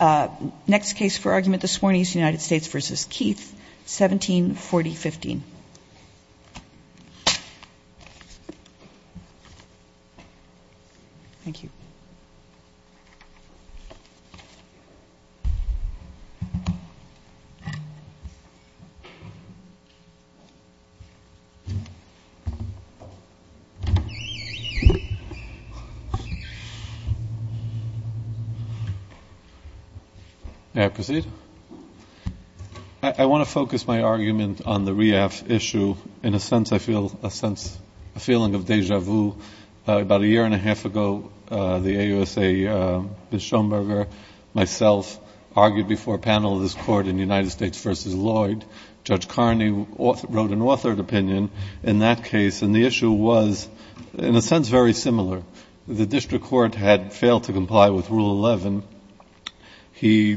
th, 1740-15. Thank you. May I proceed? I want to focus my argument on the REAF issue. In a sense, I feel a sense, a feeling of deja vu. About a year and a half ago, the AUSA, Ms. Schoenberger, myself, argued before a panel of this court in United States v. Lloyd. Judge Carney wrote an authored opinion in that case, and the issue was, in a sense, very similar. The district court had failed to comply with Rule 11. He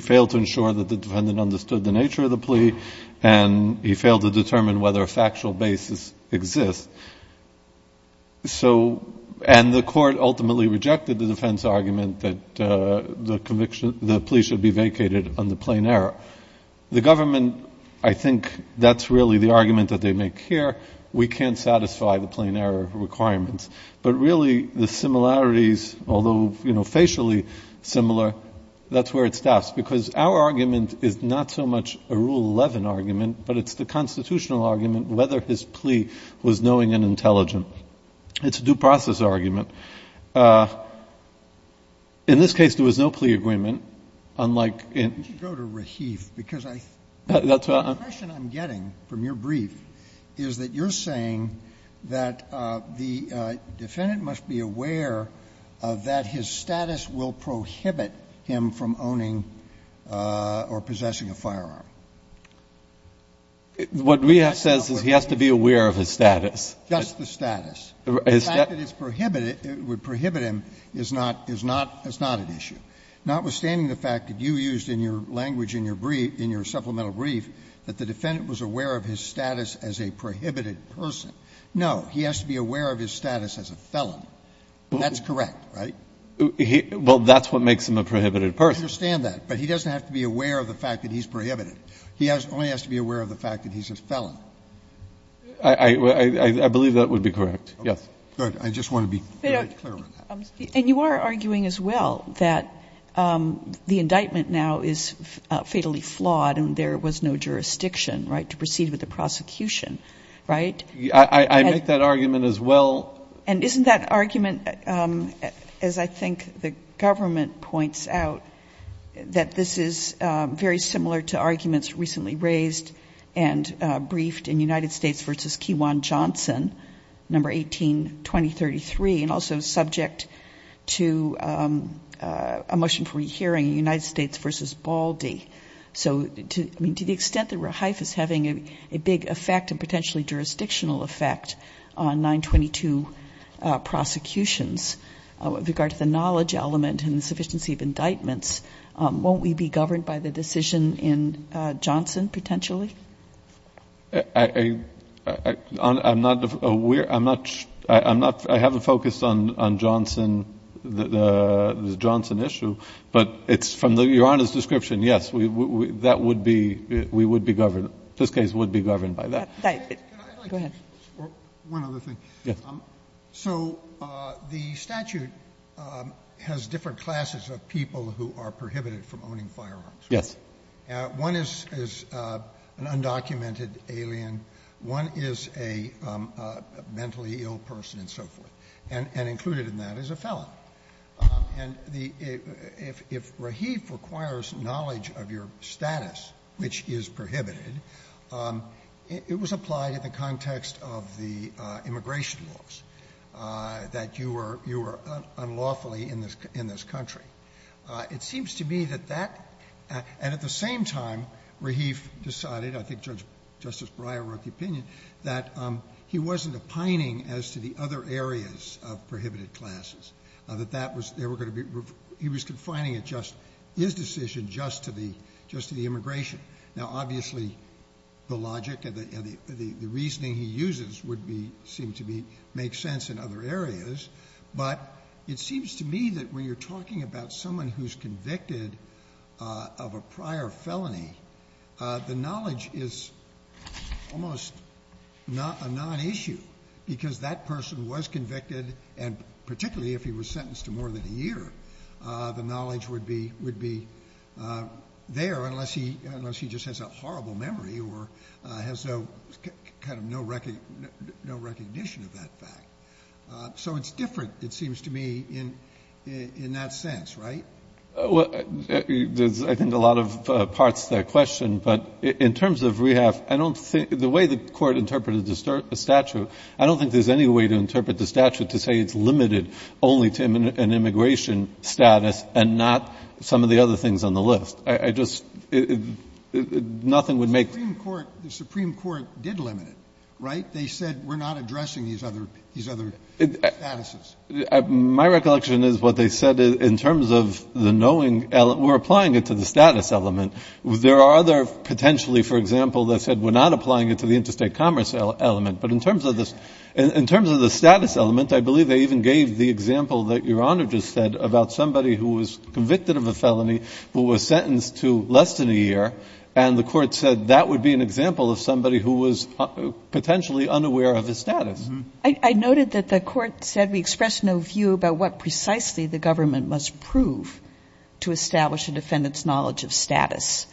failed to ensure that the defendant understood the nature of the plea, and he failed to determine whether a factual basis exists. And the court ultimately rejected the defense argument that the plea should be vacated under plain error. The government, I think that's really the argument that they make here. We can't satisfy the plain error requirements. But really, the similarities, although, you know, facially similar, that's where it stops. Because our argument is not so much a Rule 11 argument, but it's the constitutional argument, whether his plea was knowing and intelligent. It's a due process argument. In this case, there was no plea agreement, unlike in the other cases. Roberts. The impression I'm getting from your brief is that you're saying that the defendant must be aware that his status will prohibit him from owning or possessing a firearm. What we have says is he has to be aware of his status. Just the status. The fact that it would prohibit him is not an issue. Notwithstanding the fact that you used in your language in your brief, in your supplemental brief, that the defendant was aware of his status as a prohibited person. No, he has to be aware of his status as a felon. That's correct, right? Well, that's what makes him a prohibited person. I understand that. But he doesn't have to be aware of the fact that he's prohibited. He only has to be aware of the fact that he's a felon. I believe that would be correct. Yes. I just want to be very clear on that. And you are arguing as well that the indictment now is fatally flawed and there was no jurisdiction, right, to proceed with the prosecution, right? I make that argument as well. And isn't that argument, as I think the government points out, that this is very similar to arguments recently raised and briefed in United States v. Keewan-Johnson, No. 18-2033, and also subject to a motion for hearing in United States v. Baldy. So, I mean, to the extent that Rehife is having a big effect and potentially jurisdictional effect on 922 prosecutions, with regard to the knowledge element and the sufficiency of indictments, won't we be governed by the decision in Johnson, potentially? I'm not aware. I'm not. I haven't focused on Johnson, the Johnson issue. But it's from Your Honor's description, yes, that would be, we would be governed. This case would be governed by that. Go ahead. One other thing. Yes. So the statute has different classes of people who are prohibited from owning firearms. Yes. One is an undocumented alien. One is a mentally ill person and so forth. And included in that is a felon. And if Rehife requires knowledge of your status, which is prohibited, it was applied in the context of the immigration laws, that you were unlawfully in this country. It seems to me that that, and at the same time, Rehife decided, I think Justice Breyer wrote the opinion, that he wasn't opining as to the other areas of prohibited classes. That that was, they were going to be, he was confining his decision just to the immigration. Now, obviously, the logic and the reasoning he uses would be, seem to be, make sense in other areas. But it seems to me that when you're talking about someone who's convicted of a prior felony, the knowledge is almost a non-issue because that person was convicted, and particularly if he was sentenced to more than a year, the knowledge would be there unless he just has a horrible memory or has no recognition of that fact. So it's different, it seems to me, in that sense, right? Well, there's, I think, a lot of parts to that question. But in terms of Rehife, I don't think, the way the Court interpreted the statute, I don't think there's any way to interpret the statute to say it's limited only to an immigration status and not some of the other things on the list. I just, nothing would make. The Supreme Court did limit it, right? They said we're not addressing these other statuses. My recollection is what they said in terms of the knowing, we're applying it to the status element. There are other, potentially, for example, that said we're not applying it to the interstate commerce element. But in terms of the status element, I believe they even gave the example that Your Honor just said about somebody who was convicted of a felony who was sentenced to less than a year, and the Court said that would be an example of somebody who was potentially unaware of his status. I noted that the Court said we expressed no view about what precisely the government must prove to establish a defendant's knowledge of status.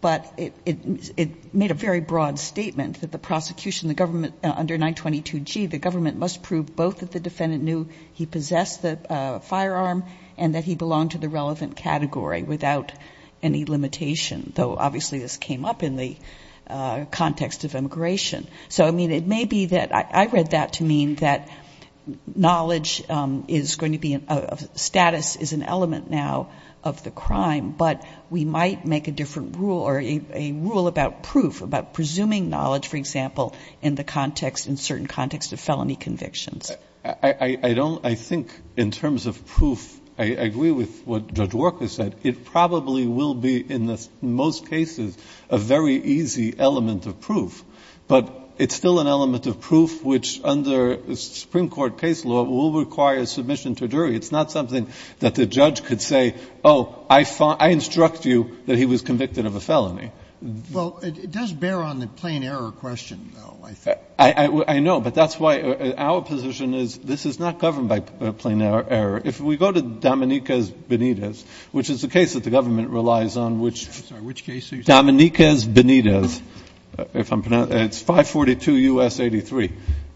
But it made a very broad statement that the prosecution, the government, under 922G, the government must prove both that the defendant knew he possessed the firearm and that he belonged to the relevant category without any limitation, though, obviously, this came up in the context of immigration. So, I mean, it may be that I read that to mean that knowledge is going to be a status is an element now of the crime, but we might make a different rule or a rule about proof, about presuming knowledge, for example, in the context, in certain context of felony convictions. I don't, I think in terms of proof, I agree with what Judge Walker said. It probably will be in the most cases a very easy element of proof, but it's still an element of proof which under Supreme Court case law will require submission to a jury. It's not something that the judge could say, oh, I instruct you that he was convicted of a felony. Roberts. Well, it does bear on the plain error question, though, I think. I know, but that's why our position is this is not governed by plain error. If we go to Dominiquez Benitez, which is a case that the government relies on, which Dominiquez Benitez, if I'm pronouncing, it's 542 U.S. 83.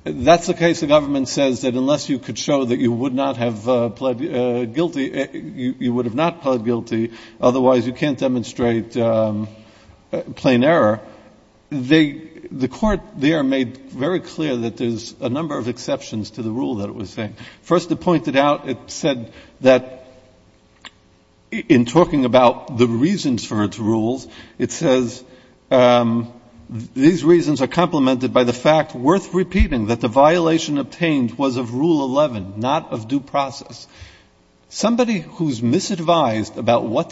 That's a case the government says that unless you could show that you would not have pled guilty, you would have not pled guilty, otherwise you can't demonstrate plain error. The court there made very clear that there's a number of exceptions to the rule that it was saying. First, it pointed out, it said that in talking about the reasons for its rules, it says these reasons are complemented by the fact, worth repeating, that the violation obtained was of Rule 11, not of due process. Somebody who's misadvised about what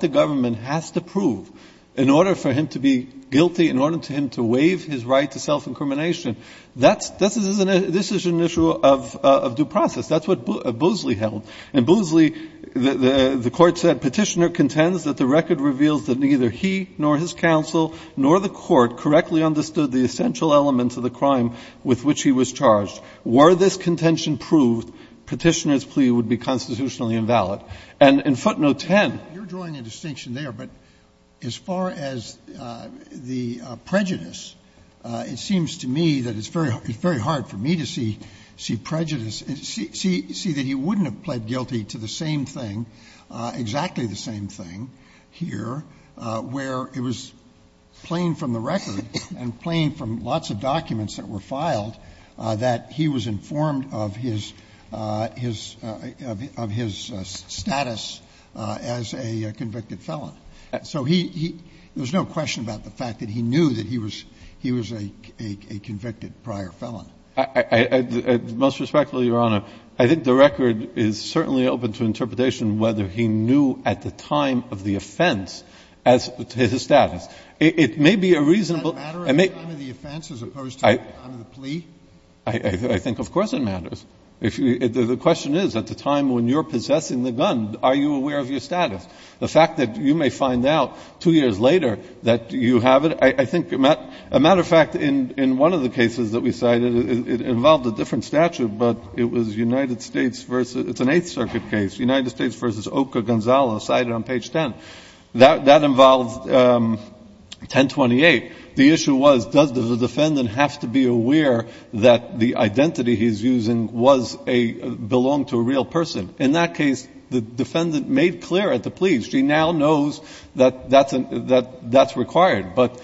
the government has to prove in order for him to be guilty, in order for him to waive his right to self-incrimination, that's, this is an issue of due process. That's what Boosley held. And Boosley, the Court said, Petitioner contends that the record reveals that neither he nor his counsel nor the Court correctly understood the essential element of the crime with which he was charged. Were this contention proved, Petitioner's plea would be constitutionally invalid. And in footnote 10. You're drawing a distinction there. But as far as the prejudice, it seems to me that it's very hard for me to see prejudice and see that he wouldn't have pled guilty to the same thing, exactly the same thing here, where it was plain from the record and plain from lots of documents that were So he, he, there's no question about the fact that he knew that he was, he was a convicted prior felon. I, I, most respectfully, Your Honor, I think the record is certainly open to interpretation whether he knew at the time of the offense as to his status. It may be a reasonable, it may. Does that matter at the time of the offense as opposed to the time of the plea? I think of course it matters. If you, the question is, at the time when you're possessing the gun, are you aware of your status? The fact that you may find out two years later that you have it, I, I think, a matter of fact, in, in one of the cases that we cited, it involved a different statute, but it was United States versus, it's an Eighth Circuit case, United States versus Oka Gonzales cited on page 10. That, that involved 1028. The issue was, does the defendant have to be aware that the identity he's using was a, belonged to a real person? In that case, the defendant made clear at the plea, she now knows that, that's an, that, that's required. But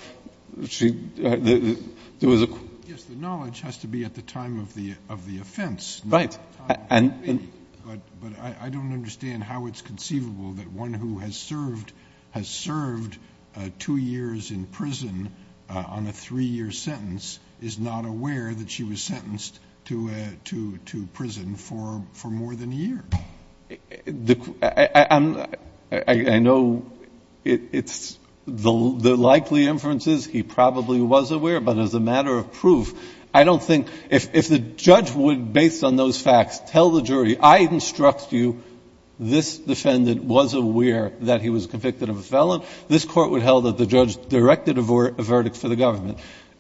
she, there was a. Yes, the knowledge has to be at the time of the, of the offense. Right. And. But, but I, I don't understand how it's conceivable that one who has served, has served two years in prison on a three-year sentence is not aware that she was sentenced to a, to, to prison for, for more than a year. The, I, I'm, I, I know it, it's, the, the likely inference is he probably was aware, but as a matter of proof, I don't think, if, if the judge would, based on those facts, tell the jury, I instruct you, this defendant was aware that he was convicted of a felon, this Court would held that the judge directed a verdict for the government.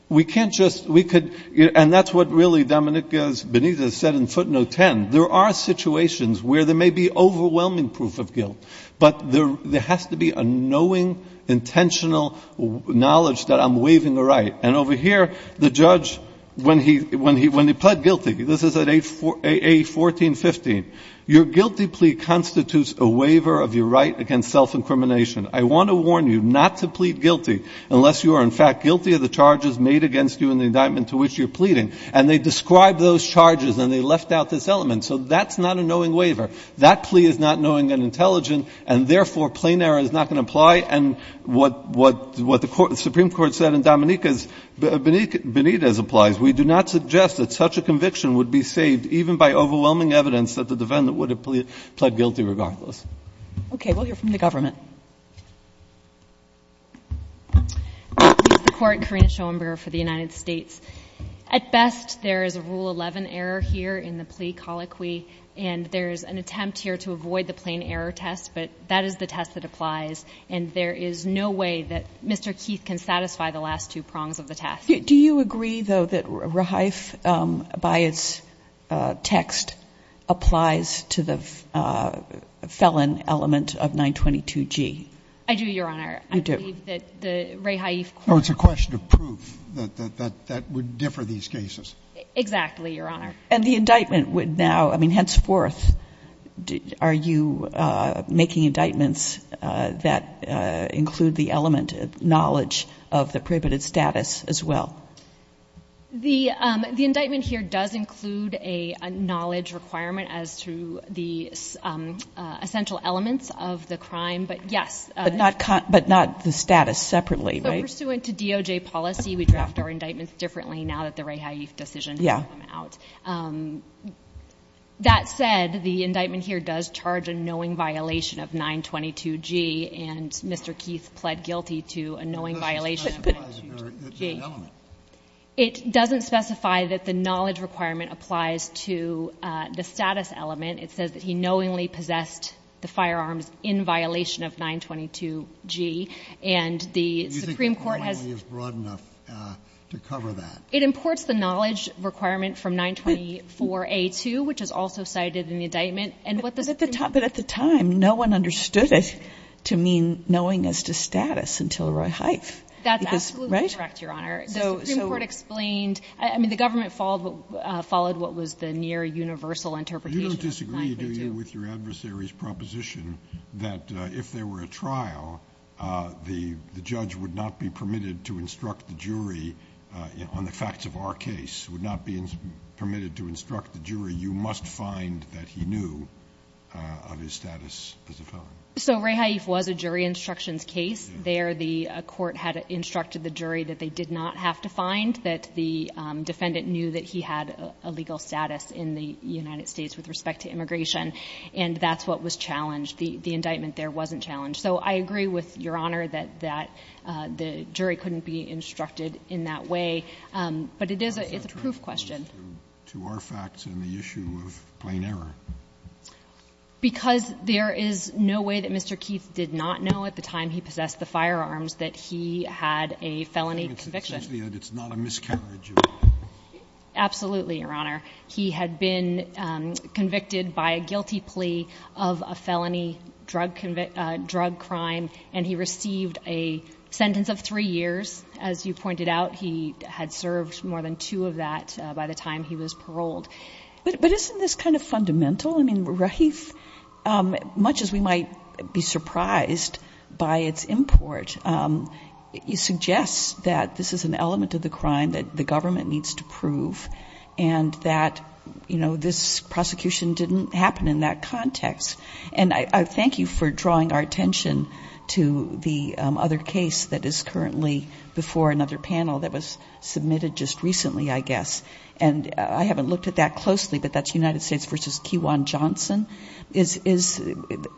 We can't just, we could, and that's what really Dominica Benitez said in footnote 10. There are situations where there may be overwhelming proof of guilt, but there, there has to be a knowing, intentional knowledge that I'm waiving a right. And over here, the judge, when he, when he, when he pled guilty, this is at A, A-14-15, your guilty plea constitutes a waiver of your right against self-incrimination. I want to warn you not to plead guilty unless you are, in fact, guilty of the charges made against you in the indictment to which you're pleading. And they describe those charges, and they left out this element. So that's not a knowing waiver. That plea is not knowing and intelligent, and therefore, plain error is not going to apply, and what, what, what the Supreme Court said in Dominica's, Benitez applies. We do not suggest that such a conviction would be saved even by overwhelming evidence that the defendant would have plead, pled guilty regardless. Okay. We'll hear from the government. This is the court, Karina Schoenberger for the United States. At best, there is a Rule 11 error here in the plea colloquy, and there is an attempt here to avoid the plain error test, but that is the test that applies, and there is no way that Mr. Keith can satisfy the last two prongs of the test. Do you agree, though, that rehaif by its text applies to the felon element of 922G? I do, Your Honor. You do. I believe that the rehaif court. Oh, it's a question of proof that, that, that would differ these cases. Exactly, Your Honor. And the indictment would now, I mean, henceforth, are you making indictments that include the element of knowledge of the prohibited status as well? The indictment here does include a knowledge requirement as to the essential elements of the crime, but yes. But not the status separately, right? So pursuant to DOJ policy, we draft our indictments differently now that the rehaif decision has come out. Yeah. That said, the indictment here does charge a knowing violation of 922G, and Mr. Keith pled guilty to a knowing violation of 922G. It doesn't specify that there is an element. It doesn't specify that the knowledge requirement applies to the status element. It says that he knowingly possessed the firearms in violation of 922G, and the Supreme Court has. You think the point is broad enough to cover that? It imports the knowledge requirement from 924A2, which is also cited in the indictment. But at the time, no one understood it to mean knowing as to status until rehaif. That's absolutely correct, Your Honor. The Supreme Court explained. I mean, the government followed what was the near universal interpretation of 922. You don't disagree, do you, with your adversary's proposition that if there were a trial, the judge would not be permitted to instruct the jury on the facts of our case, would not be permitted to instruct the jury, you must find that he knew of his status as a felon? So rehaif was a jury instructions case. There, the court had instructed the jury that they did not have to find, that the defendant knew that he had a legal status in the United States with respect to immigration, and that's what was challenged. The indictment there wasn't challenged. So I agree with Your Honor that the jury couldn't be instructed in that way. But it is a proof question. To our facts and the issue of plain error. Because there is no way that Mr. Keith did not know at the time he possessed the firearms that he had a felony conviction. It's not a miscarriage. Absolutely, Your Honor. He had been convicted by a guilty plea of a felony drug crime, and he received a sentence of three years. As you pointed out, he had served more than two of that by the time he was paroled. But isn't this kind of fundamental? I mean, rehaif, much as we might be surprised by its import, suggests that this is an prosecution didn't happen in that context. And I thank you for drawing our attention to the other case that is currently before another panel that was submitted just recently, I guess. And I haven't looked at that closely, but that's United States v. Keewan Johnson.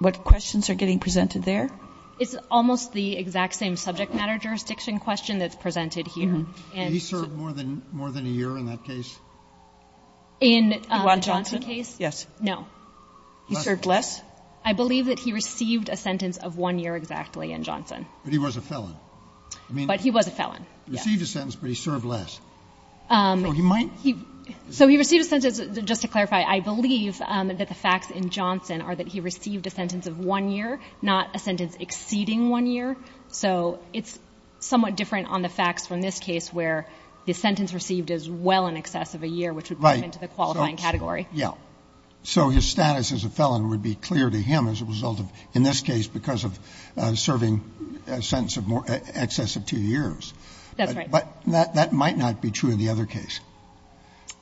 What questions are getting presented there? It's almost the exact same subject matter jurisdiction question that's presented here. He served more than a year in that case? In the Johnson case? Yes. No. He served less? I believe that he received a sentence of one year exactly in Johnson. But he was a felon. But he was a felon. He received a sentence, but he served less. So he received a sentence. Just to clarify, I believe that the facts in Johnson are that he received a sentence of one year, not a sentence exceeding one year. So it's somewhat different on the facts from this case where the sentence received is well in excess of a year, which would bring him into the qualifying category. Right. Yeah. So his status as a felon would be clear to him as a result of, in this case, because of serving a sentence of excess of two years. That's right. But that might not be true in the other case.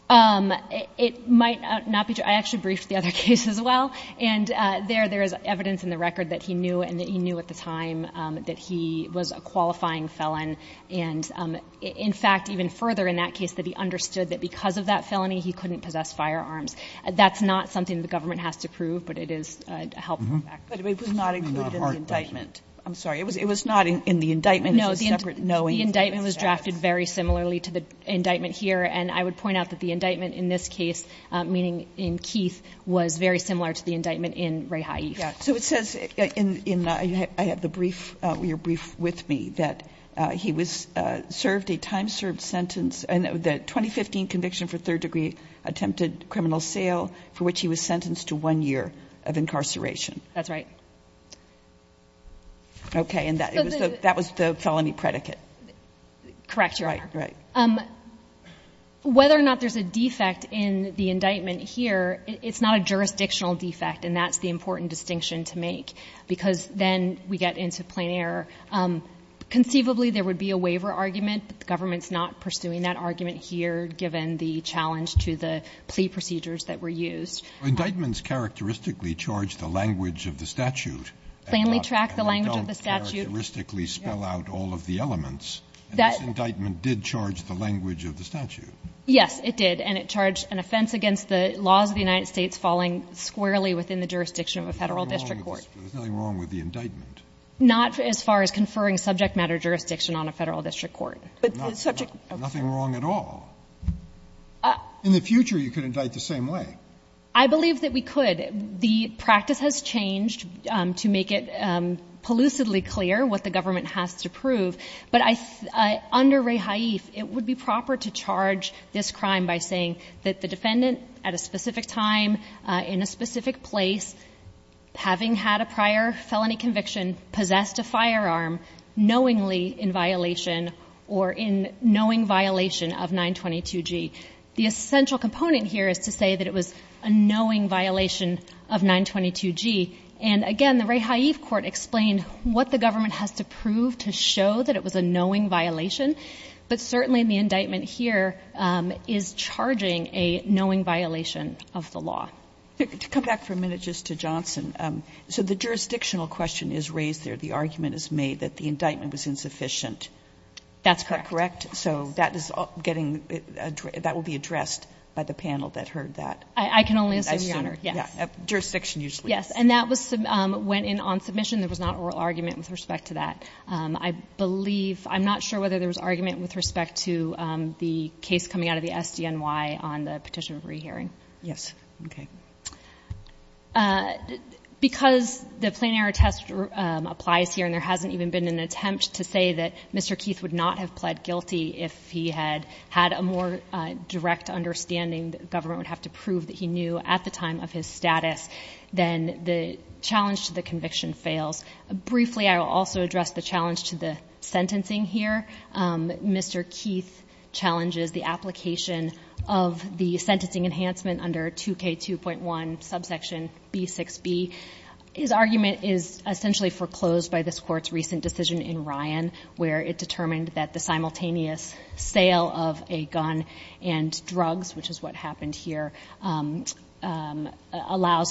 It might not be true. I actually briefed the other case as well. And there is evidence in the record that he knew and that he knew at the time that he was a qualifying felon. And, in fact, even further in that case, that he understood that because of that felony, he couldn't possess firearms. That's not something the government has to prove, but it is a helpful fact. But it was not included in the indictment. I'm sorry. It was not in the indictment as a separate knowing. No. The indictment was drafted very similarly to the indictment here. And I would point out that the indictment in this case, meaning in Keith, was very similar to the indictment in Ray Haif. Yeah. So it says in the brief, your brief with me, that he was served a time-served sentence. And the 2015 conviction for third-degree attempted criminal sale for which he was sentenced to one year of incarceration. That's right. Okay. And that was the felony predicate. Correct, Your Honor. Right, right. Whether or not there's a defect in the indictment here, it's not a jurisdictional defect, and that's the important distinction to make. Because then we get into plain error. Conceivably, there would be a waiver argument, but the government's not pursuing that argument here, given the challenge to the plea procedures that were used. Well, indictments characteristically charge the language of the statute. Plainly track the language of the statute. And don't characteristically spell out all of the elements. And this indictment did charge the language of the statute. Yes, it did. And it charged an offense against the laws of the United States falling squarely within the jurisdiction of a Federal district court. There's nothing wrong with the indictment. Not as far as conferring subject matter jurisdiction on a Federal district court. But the subject matter. Nothing wrong at all. In the future, you could indict the same way. I believe that we could. The practice has changed to make it pellucidly clear what the government has to prove. But under Ray Haif, it would be proper to charge this crime by saying that the defendant, at a specific time, in a specific place, having had a prior felony conviction, possessed a firearm, knowingly in violation or in knowing violation of 922G. The essential component here is to say that it was a knowing violation of 922G. And, again, the Ray Haif court explained what the government has to prove to show that it was a knowing violation. But certainly the indictment here is charging a knowing violation of the law. To come back for a minute just to Johnson, so the jurisdictional question is raised there. The argument is made that the indictment was insufficient. That's correct. Correct? So that will be addressed by the panel that heard that. I can only assume, Your Honor, yes. Jurisdiction usually. Yes, and that went in on submission. There was not oral argument with respect to that. I believe, I'm not sure whether there was argument with respect to the case coming out of the SDNY on the petition of rehearing. Yes. Okay. Because the plain error test applies here, and there hasn't even been an attempt to say that Mr. Keith would not have pled guilty if he had had a more direct understanding that the government would have to prove that he knew at the time of his status, then the challenge to the conviction fails. Briefly, I will also address the challenge to the sentencing here. Mr. Keith challenges the application of the sentencing enhancement under 2K2.1, subsection B6b. His argument is essentially foreclosed by this Court's recent decision in Ryan, where it determined that the simultaneous sale of a gun and drugs, which is what happened here, allows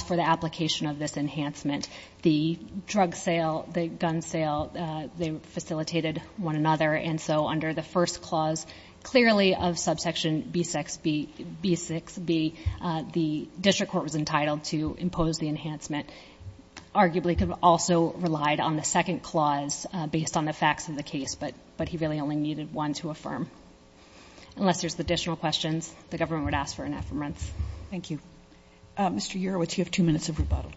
for the application of this enhancement. The drug sale, the gun sale, they facilitated one another, and so under the first clause clearly of subsection B6b, the district court was entitled to impose the enhancement. Arguably could have also relied on the second clause based on the facts of the case, but he really only needed one to affirm. Unless there's additional questions, the government would ask for an affirmance. Thank you. Mr. Urowitz, you have two minutes of rebuttal.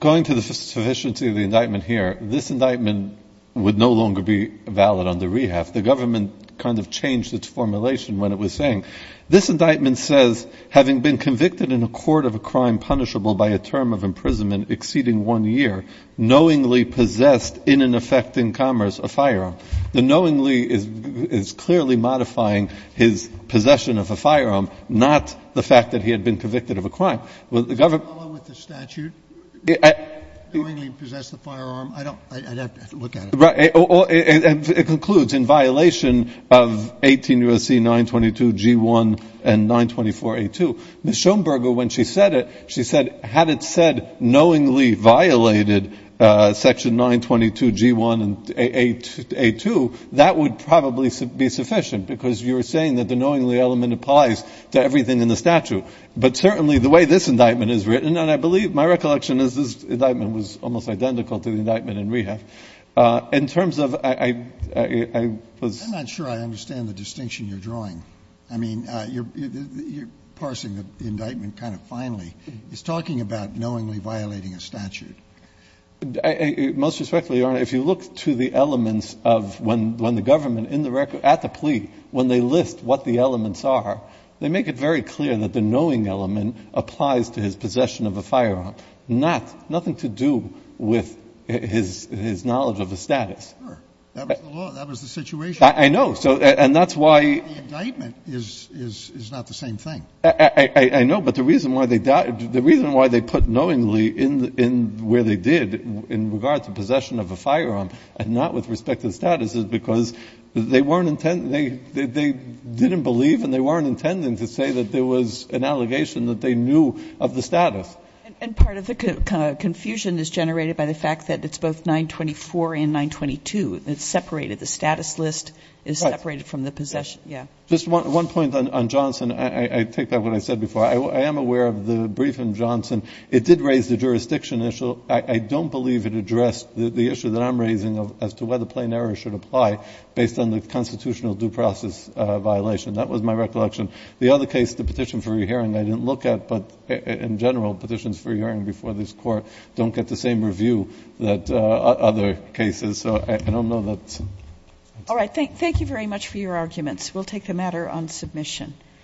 Going to the sufficiency of the indictment here, this indictment would no longer be valid under rehab. The government kind of changed its formulation when it was saying, this indictment says, having been convicted in a court of a crime punishable by a term of imprisonment exceeding one year, knowingly possessed in an effect in commerce a firearm. The knowingly is clearly modifying his possession of a firearm, not the fact that he had been convicted of a crime. Would the government? Would it follow with the statute? Knowingly possessed a firearm? I'd have to look at it. It concludes in violation of 18 U.S.C. 922 G1 and 924 A2. Ms. Schoenberger, when she said it, she said, had it said knowingly violated section 922 G1 and A2, that would probably be sufficient because you were saying that the knowingly element applies to everything in the statute. But certainly the way this indictment is written, and I believe my recollection is this indictment was almost identical to the indictment in rehab, in terms of I was. I'm not sure I understand the distinction you're drawing. I mean, you're parsing the indictment kind of finely. It's talking about knowingly violating a statute. Most respectfully, Your Honor, if you look to the elements of when the government in the record at the plea, when they list what the elements are, they make it very clear that the knowing element applies to his possession of a firearm, nothing to do with his knowledge of the status. Sure. That was the law. That was the situation. I know. And that's why. The indictment is not the same thing. I know. But the reason why they put knowingly where they did in regard to possession of a firearm and not with respect to the status is because they weren't intent pending to say that there was an allegation that they knew of the status. And part of the confusion is generated by the fact that it's both 924 and 922. It's separated. The status list is separated from the possession. Right. Yeah. Just one point on Johnson. I take back what I said before. I am aware of the brief in Johnson. It did raise the jurisdiction issue. I don't believe it addressed the issue that I'm raising as to whether plain error should apply based on the constitutional due process violation. That was my recollection. The other case, the petition for re-hearing, I didn't look at. But in general, petitions for re-hearing before this Court don't get the same review that other cases. So I don't know that. All right. Thank you very much for your arguments. We'll take the matter on submission.